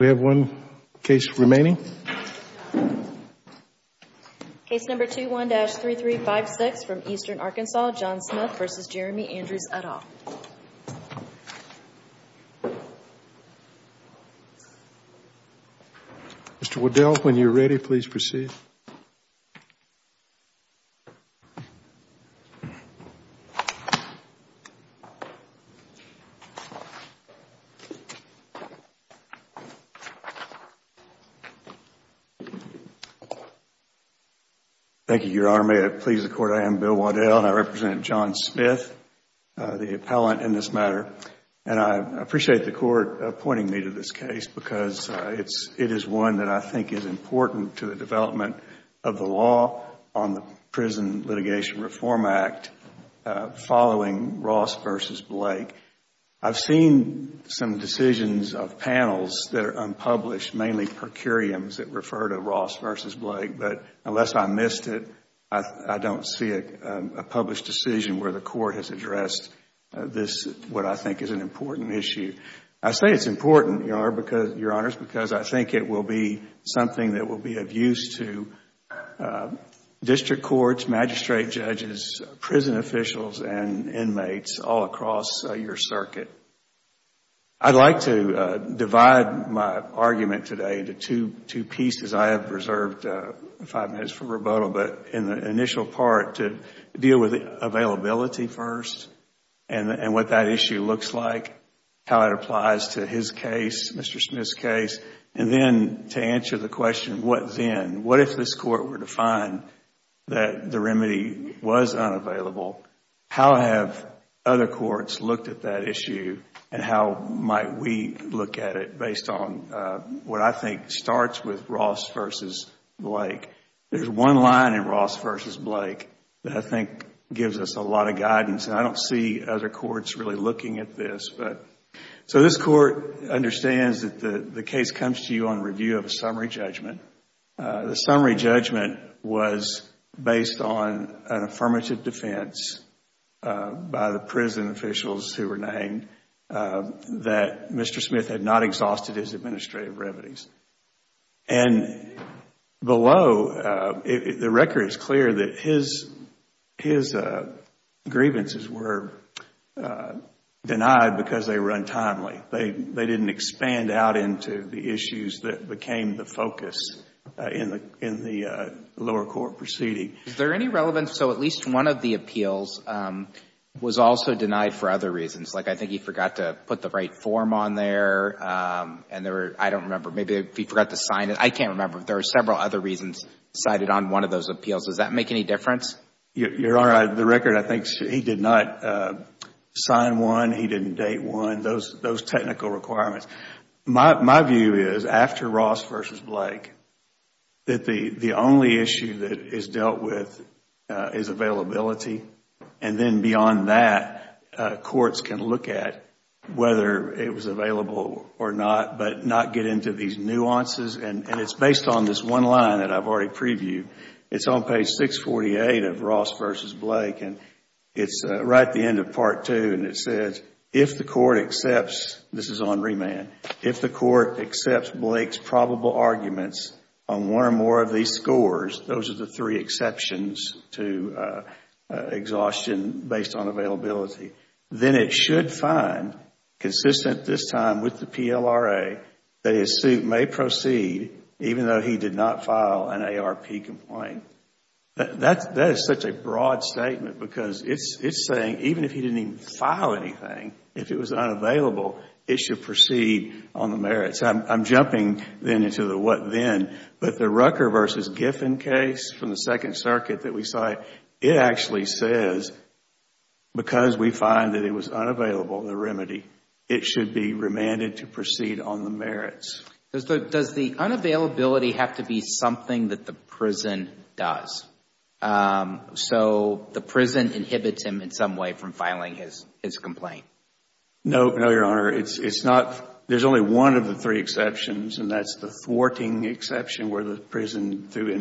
We have one case remaining. Case number 21-3356 from Eastern Arkansas, John Smith v. Jeremy Andrews, Udall. Mr. Waddell, when you are ready, please proceed. Thank you, Your Honor. May it please the Court, I am Bill Waddell and I represent John Smith, the appellant in this matter. I appreciate the Court appointing me to this case because it is one that I think is important to the development of the law on the Prison Litigation Reform Act following Ross v. Blake. I have seen some decisions of panels that are unpublished, mainly per curiams that refer to Ross v. Blake, but unless I missed it, I don't see a published decision where the Court has addressed this, what I think is an important issue. I say it is important, Your Honor, because I think it will be something that will be of use to district courts, magistrate judges, prison officials and inmates all across your circuit. I would like to divide my argument today into two pieces. I have reserved five minutes for rebuttal, but in the initial part, to deal with availability first and what that issue looks like, how it applies to his case, Mr. Smith's case, and then to answer the question, what then? What if this Court were to find that the remedy was unavailable? How have other courts looked at that issue and how might we look at it based on what I think starts with Ross v. Blake? There is one line in Ross v. Blake that I think gives us a lot of guidance. I don't see other courts really looking at this. So this Court understands that the case comes to you on review of a summary judgment. The summary judgment was based on an affirmative defense by the prison officials who were named that Mr. Smith had not exhausted his administrative revenues. And below, the record is clear that his grievances were denied because they were untimely. They didn't expand out into the issues that became the focus in the lower court proceeding. Is there any relevance, so at least one of the appeals was also denied for other reasons? Like I think he forgot to put the right form on there and there were, I don't remember, maybe he forgot to sign it. I can't remember. There are several other reasons cited on one of those appeals. Does that make any difference? Your Honor, the record, I think he did not sign one. He didn't date one. Those technical requirements. My view is, after Ross v. Blake, that the only issue that is dealt with is availability. And then beyond that, courts can look at whether it was available or not, but not get into these nuances. And it is based on this one line that I have already previewed. It's right at the end of part two and it says, if the court accepts, this is on remand, if the court accepts Blake's probable arguments on one or more of these scores, those are the three exceptions to exhaustion based on availability, then it should find, consistent this time with the PLRA, that his suit may proceed even though he did not file an ARP complaint. That is such a broad statement because it's saying, even if he didn't even file anything, if it was unavailable, it should proceed on the merits. I'm jumping then into the what then, but the Rucker v. Giffen case from the Second Circuit that we saw, it actually says, because we find that it was unavailable, the remedy, it should be remanded to proceed on the merits. Does the unavailability have to be something that the prison does? So the prison inhibits him in some way from filing his complaint? No, Your Honor. There is only one of the three exceptions and that is the thwarting exception where the prison, through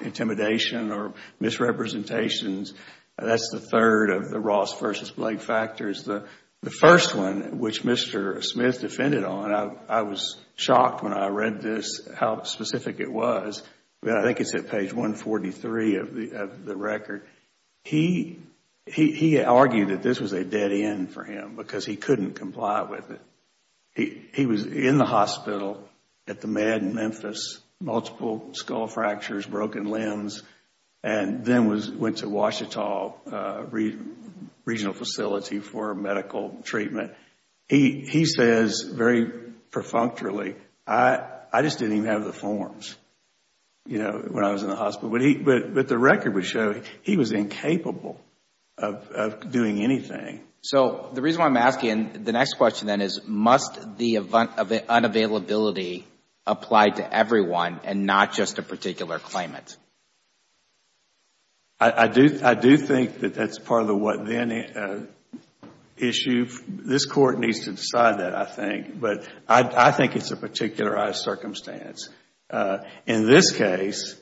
intimidation or misrepresentations, that is the third of the Ross v. Blake factors. The first one, which Mr. Smith defended on, I was shocked when I read this how specific it was. I think it's at page 143 of the record. He argued that this was a dead end for him because he couldn't comply with it. He was in the hospital at the Med in Memphis, multiple skull fractures, broken limbs, and then went to Ouachita Regional Facility for medical treatment. He says very perfunctorily, I just didn't even have the forms when I was in the hospital. But the record would show he was incapable of doing anything. So the reason why I'm asking, the next question then is must the unavailability apply to everyone and not just a particular claimant? I do think that that's part of the what then issue. This Court needs to decide that, I think. But I think it's a particularized circumstance. In this case,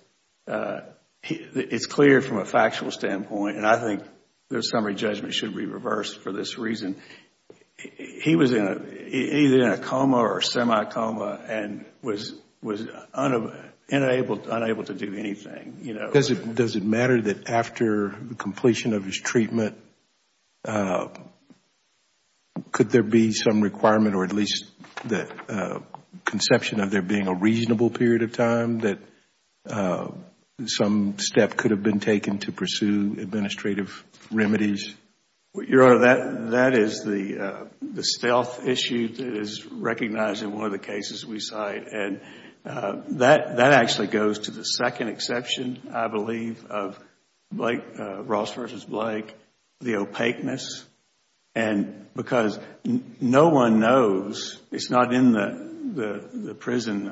it's clear from a factual standpoint, and I think the summary judgment should be reversed for this reason. He was either in a coma or a semi-coma and was unable to do anything. Does it matter that after the completion of his treatment, could there be some requirement or at least the conception of there being a reasonable period of time that some step could have been taken to pursue administrative remedies? Your Honor, that is the stealth issue that is recognized in one of the cases we cite. That actually goes to the second exception, I believe, of Ross v. Blake, the opaqueness. Because no one knows, it's not in the prison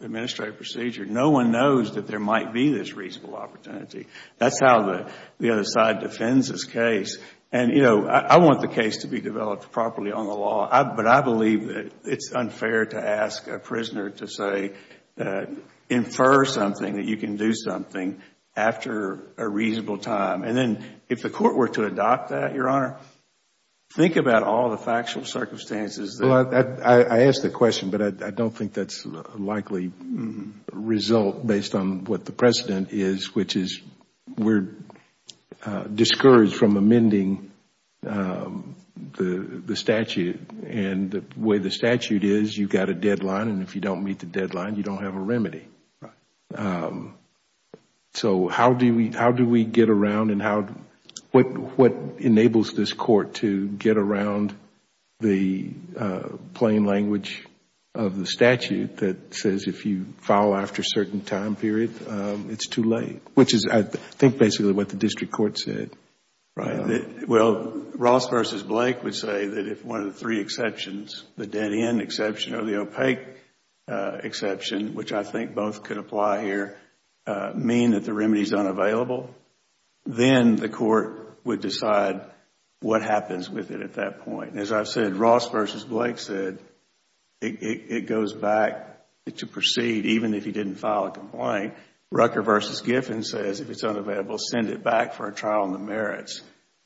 administrative procedure, no one knows that there might be this reasonable opportunity. That's how the other side defends this case. I want the case to be developed properly on the law, but I believe that it's unfair to ask a prisoner to say, infer something, that you can do something after a reasonable time. If the Court were to adopt that, Your Honor, think about all the factual circumstances that... I ask the question, but I don't think that's a likely result based on what the precedent is, which is we're discouraged from amending the statute. And the way the statute is, you've got a deadline, and if you don't meet the deadline, you don't have a remedy. So how do we get around and what enables this Court to get around the plain language of the statute that says if you file after a certain time period, it's too late? Which is, I think, basically what the district court said, right? Well, Ross v. Blake would say that if one of the three exceptions, the dead-end exception or the opaque exception, which I think both could apply here, mean that the remedy is unavailable, then the Court would decide what happens with it at that point. And as I've said, Ross v. Blake said it goes back to proceed even if he didn't file a complaint. Rucker v. Giffen says if it's unavailable, send it back for a trial in the merits.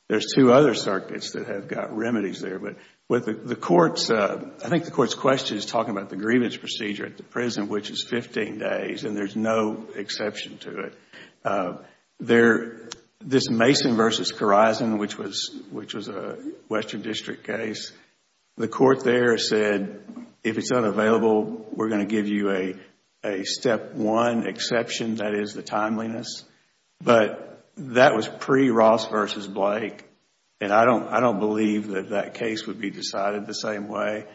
There's two other circuits that have got remedies there, but I think the Court's question is talking about the grievance procedure at the prison, which is fifteen days, and there's no exception to it. There, this Mason v. Korizon, which was a Western District case, the Court there said if it's unavailable, we're going to give you a step one exception, that is the timeliness. But that was pre-Ross v. Blake, and I don't believe that that case would be decided the same way.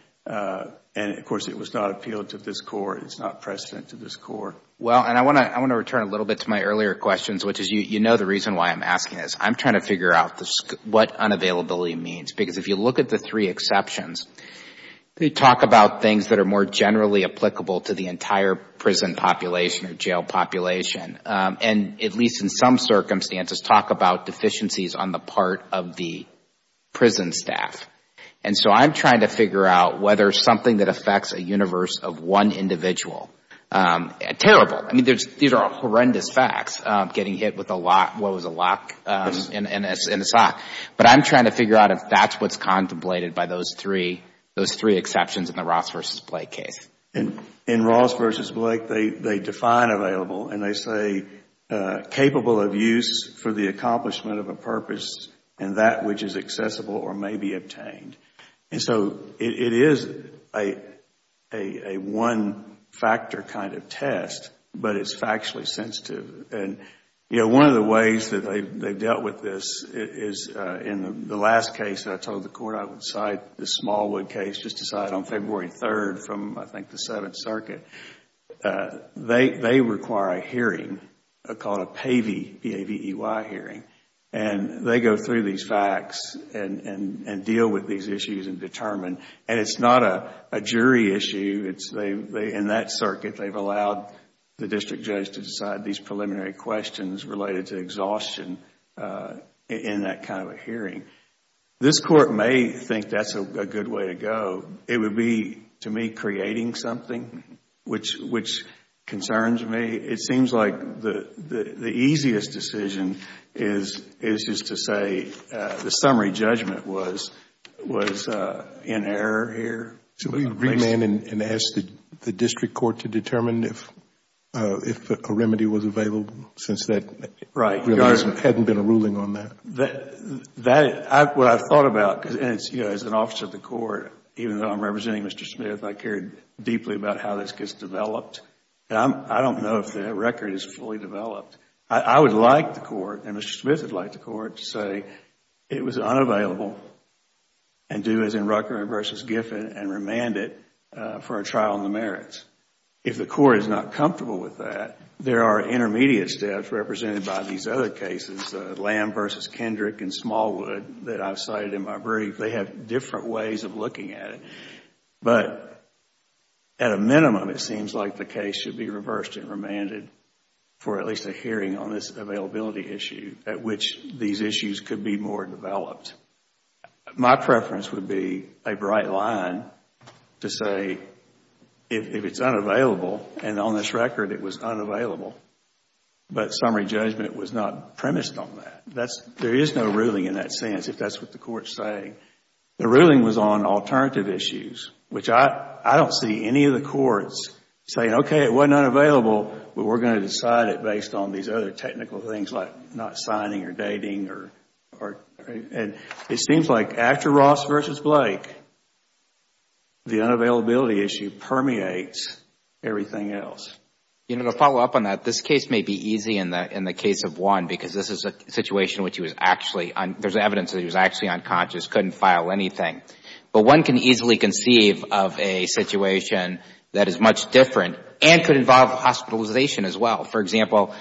And, of course, it was not appealed to this Court, it's not precedent to this Court. Well, and I want to return a little bit to my earlier questions, which is, you know the reason why I'm asking this. I'm trying to figure out what unavailability means, because if you look at the three exceptions, they talk about things that are more generally applicable to the entire prison population or jail population, and at least in some circumstances, talk about deficiencies on the part of the prison staff. And so I'm trying to figure out whether something that affects a universe of one individual is available. Terrible. I mean, these are horrendous facts, getting hit with what was a lock in a sock. But I'm trying to figure out if that's what's contemplated by those three exceptions in the Ross v. Blake case. In Ross v. Blake, they define available, and they say, capable of use for the accomplishment of a purpose and that which is accessible or may be obtained. And so it is a one-factor kind of test, but it's factually sensitive. And one of the ways that they've dealt with this is in the last case that I told the Court I would cite, the Smallwood case just decided on February 3rd from, I think, the 7th Circuit. They require a hearing called a PAVEY, P-A-V-E-Y hearing, and they go through these facts and deal with these issues and determine. And it's not a jury issue. In that circuit, they've allowed the district judge to decide these preliminary questions related to exhaustion in that kind of a hearing. This Court may think that's a good way to go. It would be, to me, creating something, which concerns me. It seems like the easiest decision is just to say the summary judgment was in error here. So we remand and ask the district court to determine if a remedy was available since that release hadn't been a ruling on that? What I've thought about, as an officer of the court, even though I'm representing Mr. Smith, I care deeply about how this gets developed. I don't know if the record is fully developed. I would like the court, and Mr. Smith would like the court, to say it was unavailable and do as in Rucker v. Giffen and remand it for a trial in the merits. If the court is not comfortable with that, there are intermediate steps represented by these other cases, Lamb v. Kendrick and Smallwood, that I've cited in my brief. They have different ways of looking at it. But at a minimum, it seems like the case should be reversed and remanded for at least a hearing on this availability issue at which these issues could be more developed. My preference would be a bright line to say if it's unavailable, and on this record it was unavailable, but summary judgment was not premised on that. There is no ruling in that sense, if that's what the court is saying. The ruling was on alternative issues, which I don't see any of the courts saying, okay, it wasn't unavailable, but we're going to decide it based on these other technical things like not signing or dating. It seems like after Ross v. Blake, the unavailability issue permeates everything else. To follow up on that, this case may be easy in the case of one because this is a situation which he was actually, there's evidence that he was actually unconscious, couldn't file anything. But one can easily conceive of a situation that is much different and could involve hospitalization as well. For example,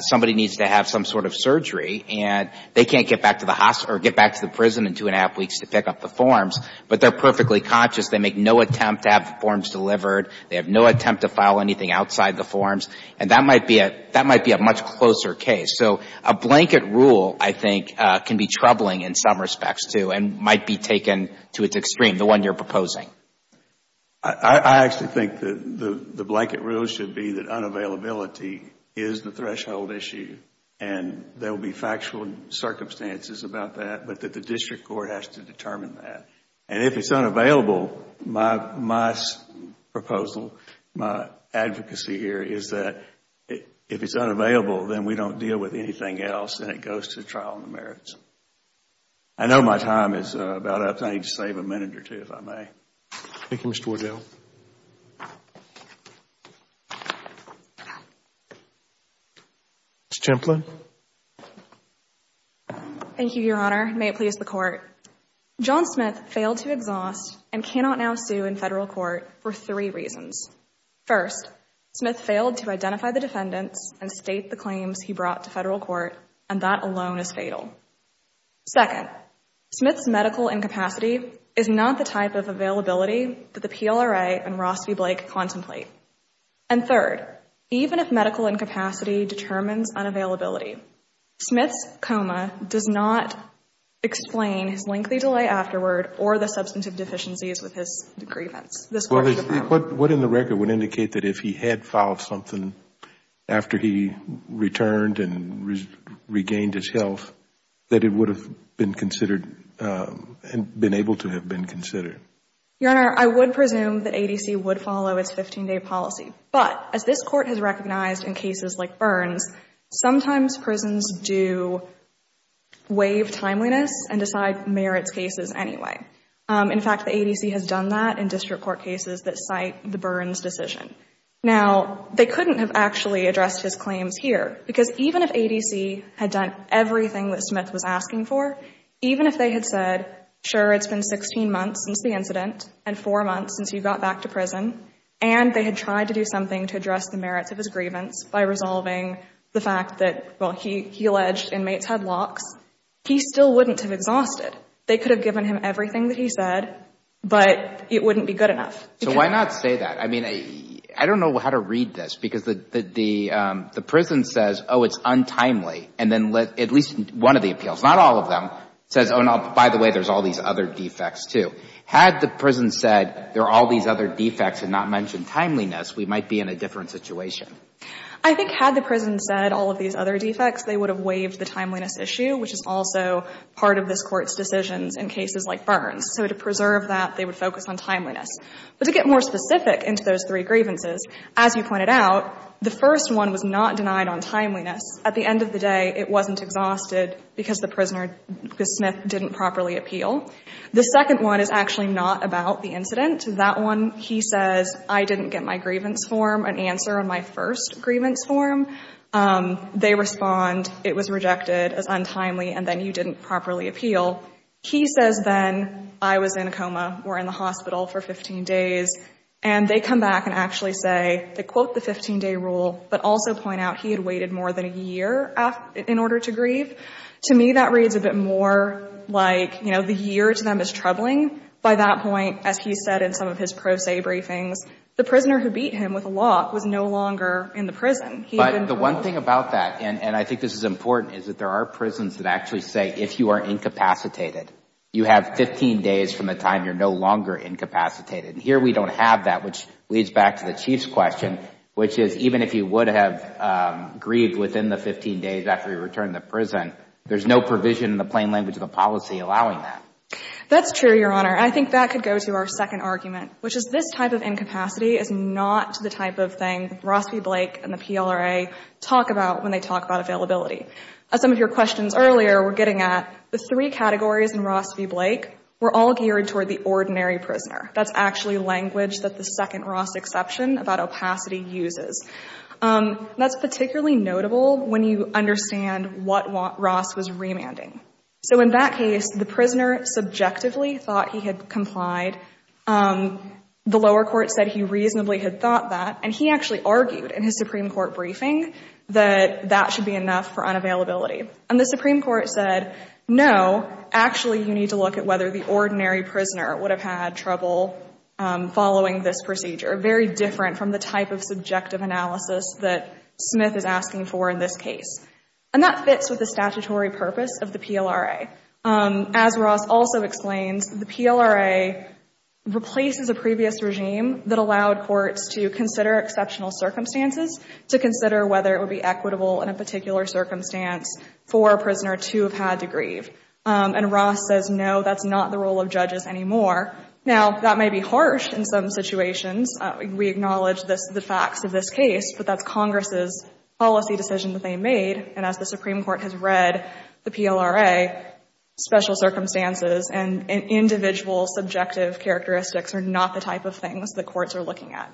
somebody needs to have some sort of surgery and they can't get back to the hospital or get back to the prison in two and a half weeks to pick up the forms, but they're perfectly conscious. They make no attempt to have the forms delivered, they have no attempt to file anything outside the forms, and that might be a much closer case. A blanket rule, I think, can be troubling in some respects, too, and might be taken to its extreme, the one you're proposing. I actually think the blanket rule should be that unavailability is the threshold issue and there will be factual circumstances about that, but that the district court has to determine that. If it's unavailable, my proposal, my advocacy here is that if it's unavailable, then we don't deal with anything else and it goes to trial in the merits. I know my time is about up, so I need to save a minute or two, if I may. Thank you, Mr. Wardell. Ms. Templin. Thank you, Your Honor. May it please the Court. John Smith failed to exhaust and cannot now sue in Federal court for three reasons. First, Smith failed to identify the defendants and state the claims he brought to Federal court, and that alone is fatal. Second, Smith's medical incapacity is not the type of availability that the PLRA and Ross v. Blake contemplate. And third, even if medical incapacity determines unavailability, Smith's coma does not explain his lengthy delay afterward or the substantive deficiencies with his grievance. What in the record would indicate that if he had filed something after he returned and regained his health, that it would have been considered and been able to have been considered? Your Honor, I would presume that ADC would follow its 15-day policy, but as this court has recognized in cases like Burns, sometimes prisons do waive timeliness and decide merits cases anyway. In fact, the ADC has done that in district court cases that cite the Burns decision. Now, they couldn't have actually addressed his claims here, because even if ADC had done everything that Smith was asking for, even if they had said, sure, it's been 16 months since the incident and four months since he got back to prison, and they had tried to do something to address the merits of his grievance by resolving the fact that, well, he alleged inmates had locks, he still wouldn't have exhausted. They could have given him everything that he said, but it wouldn't be good enough. So why not say that? I mean, I don't know how to read this, because the prison says, oh, it's untimely, and then at least one of the appeals, not all of them, says, oh, no, by the way, there's all these other defects, too. Had the prison said there are all these other defects and not mentioned timeliness, we might be in a different situation. I think had the prison said all of these other defects, they would have waived the timeliness issue, which is also part of this Court's decisions in cases like Burns. So to preserve that, they would focus on timeliness. But to get more specific into those three grievances, as you pointed out, the first one was not denied on timeliness. At the end of the day, it wasn't exhausted because the prisoner, because Smith didn't properly appeal. The second one is actually not about the incident. That one, he says, I didn't get my grievance form, an answer on my first grievance form. They respond, it was rejected as untimely, and then you didn't properly appeal. He says, then, I was in a coma or in the hospital for 15 days. And they come back and actually say, they quote the 15-day rule, but also point out he had waited more than a year in order to grieve. To me, that reads a bit more like, you know, the year to them is troubling. By that point, as he said in some of his pro se briefings, the prisoner who beat him with a lock was no longer in the prison. But the one thing about that, and I think this is important, is that there are prisons that actually say if you are incapacitated, you have 15 days from the time you're no longer incapacitated. And here we don't have that, which leads back to the Chief's question, which is even if you would have grieved within the 15 days after you returned to prison, there's no provision in the plain language of the policy allowing that. That's true, Your Honor. I think that could go to our second argument, which is this type of incapacity is not the type that Ross v. Blake and the PLRA talk about when they talk about availability. Some of your questions earlier were getting at the three categories in Ross v. Blake were all geared toward the ordinary prisoner. That's actually language that the second Ross exception about opacity uses. That's particularly notable when you understand what Ross was remanding. So in that case, the prisoner subjectively thought he had complied. The lower court said he reasonably had thought that. And he actually argued in his Supreme Court briefing that that should be enough for unavailability. And the Supreme Court said, no, actually you need to look at whether the ordinary prisoner would have had trouble following this procedure, very different from the type of subjective analysis that Smith is asking for in this case. And that fits with the statutory purpose of the PLRA. As Ross also explains, the PLRA replaces a previous regime that allowed courts to consider exceptional circumstances to consider whether it would be equitable in a particular circumstance for a prisoner to have had to grieve. And Ross says, no, that's not the role of judges anymore. Now that may be harsh in some situations. We acknowledge this, the facts of this case, but that's Congress's policy decision that they made. And as the Supreme Court has read the PLRA, special circumstances and individual subjective characteristics are not the type of things the courts are looking at.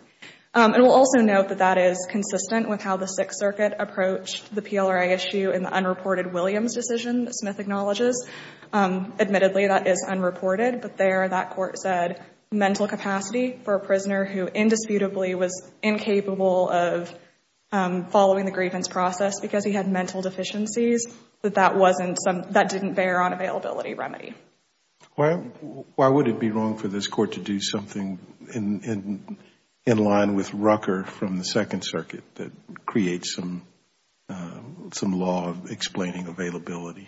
And we'll also note that that is consistent with how the Sixth Circuit approached the PLRA issue in the unreported Williams decision that Smith acknowledges. Admittedly, that is unreported, but there that court said mental capacity for a prisoner who indisputably was incapable of following the grievance process because he had mental deficiencies, that that wasn't some, that didn't bear on availability remedy. Why, why would it be wrong for this court to do something in, in, in line with Rucker from the Second Circuit that creates some, some law explaining availability?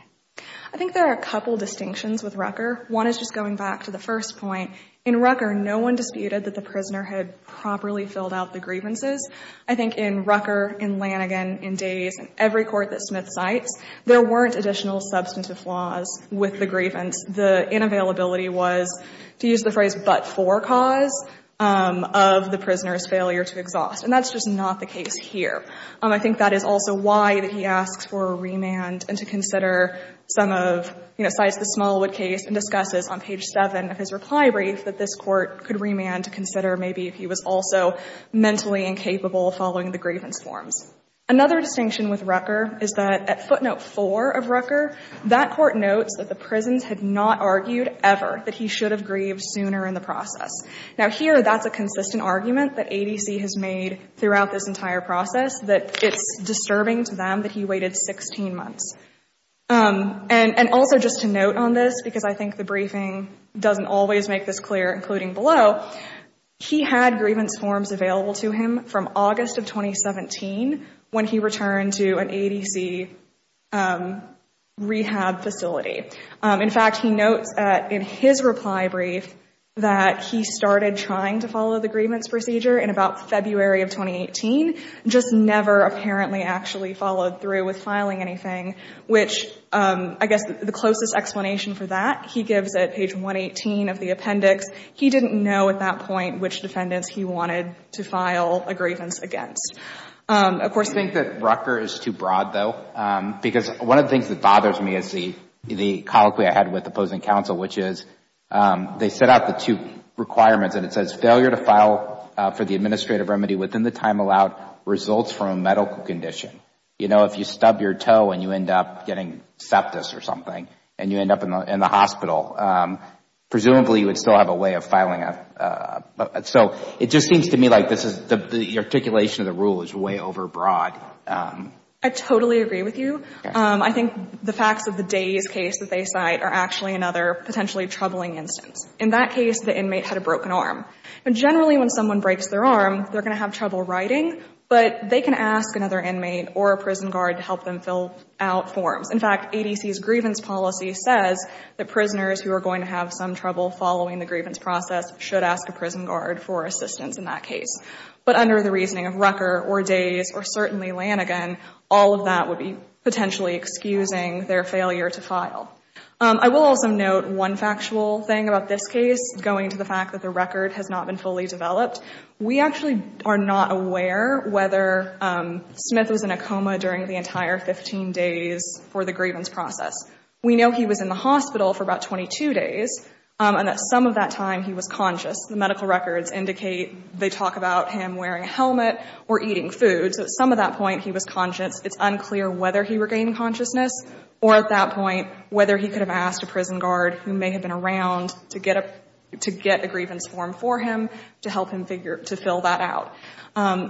I think there are a couple of distinctions with Rucker. One is just going back to the first point. In Rucker, no one disputed that the prisoner had properly filled out the grievances. I think in Rucker, in Lanigan, in Days, in every court that Smith cites, there weren't additional substantive flaws with the grievance. The inavailability was, to use the phrase, but for cause of the prisoner's failure to exhaust. And that's just not the case here. I think that is also why he asks for a remand and to consider some of, you know, cites the Smallwood case and discusses on page 7 of his reply brief that this court could remand to consider maybe if he was also mentally incapable of following the grievance forms. Another distinction with Rucker is that at footnote 4 of Rucker, that court notes that the prisons had not argued ever that he should have grieved sooner in the process. Now, here, that's a consistent argument that ADC has made throughout this entire process, that it's disturbing to them that he waited 16 months. And, and also just to note on this, because I think the briefing doesn't always make this clear, including below, he had grievance forms available to him from August of 2017 when he returned to an ADC rehab facility. In fact, he notes in his reply brief that he started trying to follow the grievance procedure in about February of 2018, just never apparently actually followed through with filing anything, which I guess the closest explanation for that, he gives at page 118 of the appendix, he didn't know at that point which defendants he wanted to file a grievance. Of course, I think that Rucker is too broad, though, because one of the things that bothers me is the colloquy I had with opposing counsel, which is they set out the two requirements and it says failure to file for the administrative remedy within the time allowed results from a medical condition. You know, if you stub your toe and you end up getting septis or something and you end up in the hospital, presumably you would still have a way of filing. So it just seems to me like this is the articulation of the rule is way overbroad. I totally agree with you. I think the facts of the Day's case that they cite are actually another potentially troubling instance. In that case, the inmate had a broken arm. And generally when someone breaks their arm, they're going to have trouble writing, but they can ask another inmate or a prison guard to help them fill out forms. In fact, ADC's grievance policy says that prisoners who are going to have some trouble following the grievance process should ask a prison guard for assistance in that case. But under the reasoning of Rucker or Days or certainly Lanigan, all of that would be potentially excusing their failure to file. I will also note one factual thing about this case, going to the fact that the record has not been fully developed. We actually are not aware whether Smith was in a coma during the entire 15 days for the grievance process. We know he was in the hospital for about 22 days, and at some of that time he was conscious. The medical records indicate they talk about him wearing a helmet or eating food, so at some of that point he was conscious. It's unclear whether he regained consciousness or at that point whether he could have asked a prison guard who may have been around to get a grievance form for him to help him figure to fill that out.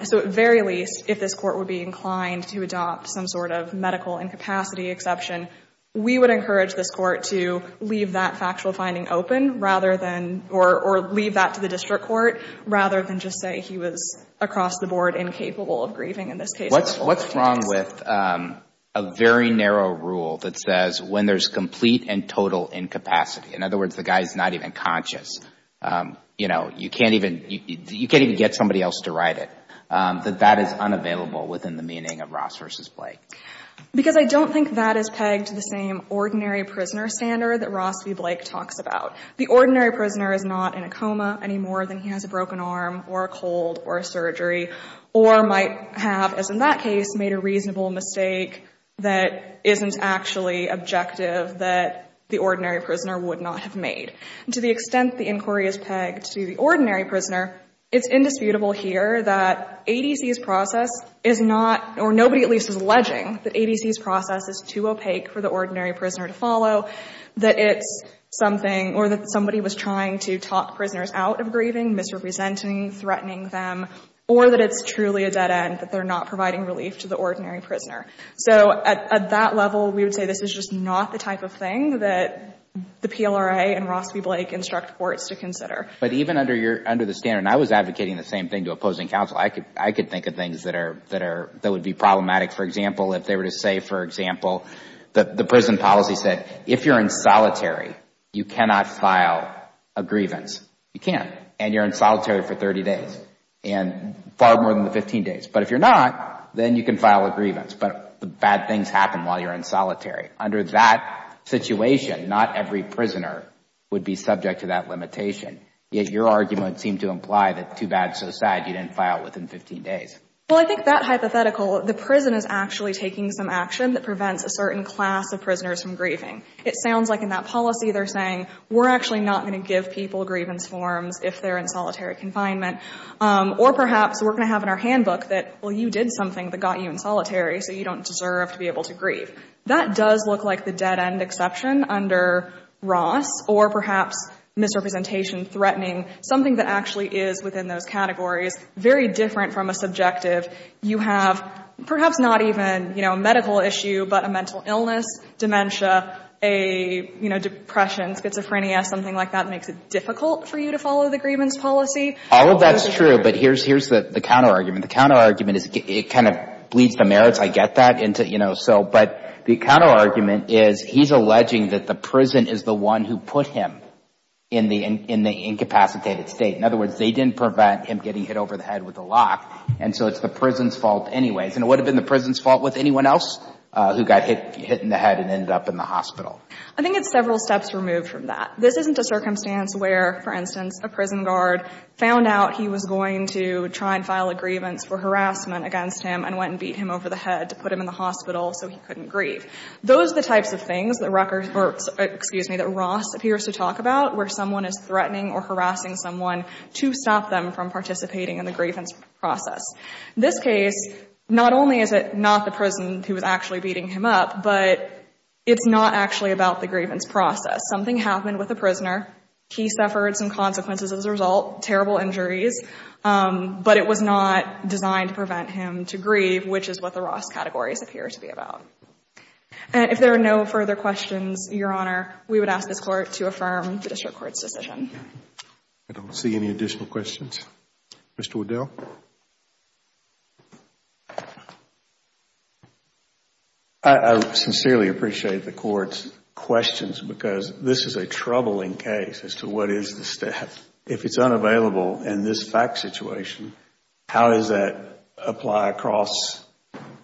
So at very least, if this Court would be inclined to adopt some sort of medical incapacity exception, we would encourage this Court to leave that factual finding open rather than or leave that to the district court rather than just say he was across the board incapable of grieving in this case. What's wrong with a very narrow rule that says when there's complete and total incapacity, in other words the guy is not even conscious, you know, you can't even get somebody else to write it, that that is unavailable within the meaning of Ross v. Blake? Because I don't think that is pegged to the same ordinary prisoner standard that Ross v. Blake talks about. The ordinary prisoner is not in a coma any more than he has a broken arm or a cold or a surgery or might have, as in that case, made a reasonable mistake that isn't actually objective that the ordinary prisoner would not have made. And to the extent the inquiry is pegged to the ordinary prisoner, it's indisputable here that ADC's process is not, or nobody at least is alleging that ADC's process is too opaque for the ordinary prisoner to follow, that it's something or that somebody was trying to talk prisoners out of grieving, misrepresenting, threatening them, or that it's truly a dead end, that they're not providing relief to the ordinary prisoner. So at that level, we would say this is just not the type of thing that the PLRA and Ross v. Blake instruct courts to consider. But even under the standard, and I was advocating the same thing to opposing counsel, I could think of things that would be problematic, for example, if they were to say, for example, the prison policy said if you're in solitary, you cannot file a grievance. You can't. And you're in solitary for 30 days and far more than the 15 days. But if you're not, then you can file a grievance. But bad things happen while you're in solitary. Under that situation, not every prisoner would be subject to that limitation. Yet your argument seemed to imply that too bad, so sad, you didn't file within 15 days. Well, I think that hypothetical, the prison is actually taking some action that prevents a certain class of prisoners from grieving. It sounds like in that policy, they're saying, we're actually not going to give people grievance forms if they're in solitary confinement. Or perhaps we're going to have in our handbook that, well, you did something that got you in solitary, so you don't deserve to be able to grieve. That does look like the dead-end exception under Ross, or perhaps misrepresentation threatening, something that actually is within those categories, very different from a subjective. You have perhaps not even, you know, a medical issue, but a mental illness, dementia, a, you know, depression, schizophrenia, something like that makes it difficult for you to follow the grievance policy. All of that's true. But here's the counterargument. The counterargument is it kind of bleeds the merits. I get that. But the counterargument is he's alleging that the prison is the one who put him in the incapacitated state. In other words, they didn't prevent him getting hit over the head with a lock, and so it's the prison's fault anyways. And it would have been the prison's fault with anyone else who got hit in the head and ended up in the hospital. I think it's several steps removed from that. This isn't a circumstance where, for instance, a prison guard found out he was going to try and file a grievance for harassment against him and went and beat him over the head to put him in the hospital so he couldn't grieve. Those are the types of things that Rutgers, or excuse me, that Ross appears to talk about where someone is threatening or harassing someone to stop them from participating in the grievance process. This case, not only is it not the prison who was actually beating him up, but it's not actually about the grievance process. Something happened with the prisoner. He suffered some consequences as a result, terrible injuries. But it was not designed to prevent him to grieve, which is what the Ross categories appear to be about. If there are no further questions, Your Honor, we would ask this Court to affirm the District Court's decision. I don't see any additional questions. Mr. O'Dell? I sincerely appreciate the Court's questions because this is a troubling case as to what is the step. If it's unavailable in this fact situation, how does that apply across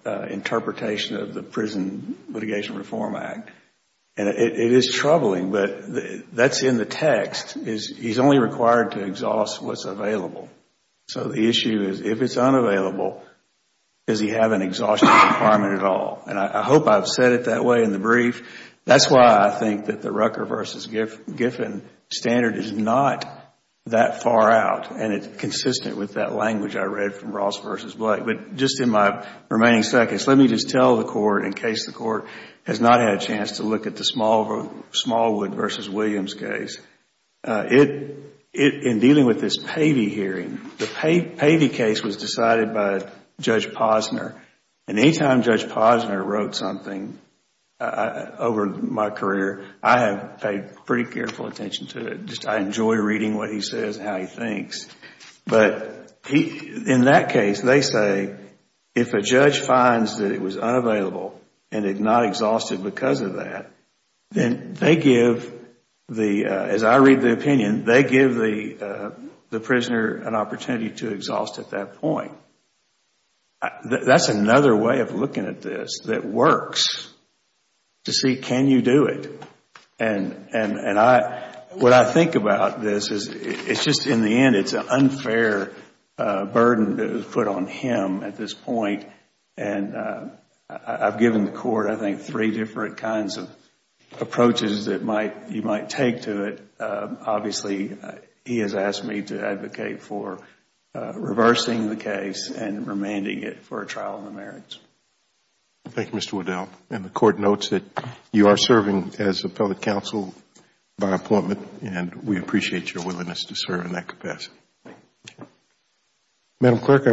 interpretation of the Prison Litigation Reform Act? It is troubling, but that's in the text. He's only required to exhaust what's available. So the issue is if it's unavailable, does he have an exhaustion requirement at all? I hope I've said it that way in the brief. That's why I think that the Rucker v. Giffen standard is not that far out, and it's consistent with that language I read from Ross v. Blake. But just in my remaining seconds, let me just tell the Court, in case the Court has not had a chance to look at the Smallwood v. Williams case. In dealing with this Pavey hearing, the Pavey case was decided by Judge Posner, and anytime Judge Posner wrote something over my career, I have paid pretty careful attention to it. I enjoy reading what he says and how he thinks. In that case, they say if a judge finds that it was unavailable and it's not exhausted because of that, then they give, as I read the opinion, they give the prisoner an opportunity to exhaust at that point. That's another way of looking at this that works, to see can you do it. What I think about this is just in the end, it's an unfair burden put on him at this point. I've given the Court, I think, three different kinds of approaches that you might take to it. Obviously, he has asked me to advocate for reversing the case and remanding it for a trial in the merits. Thank you, Mr. Waddell. The Court notes that you are serving as appellate counsel by appointment, and we appreciate your willingness to serve in that capacity.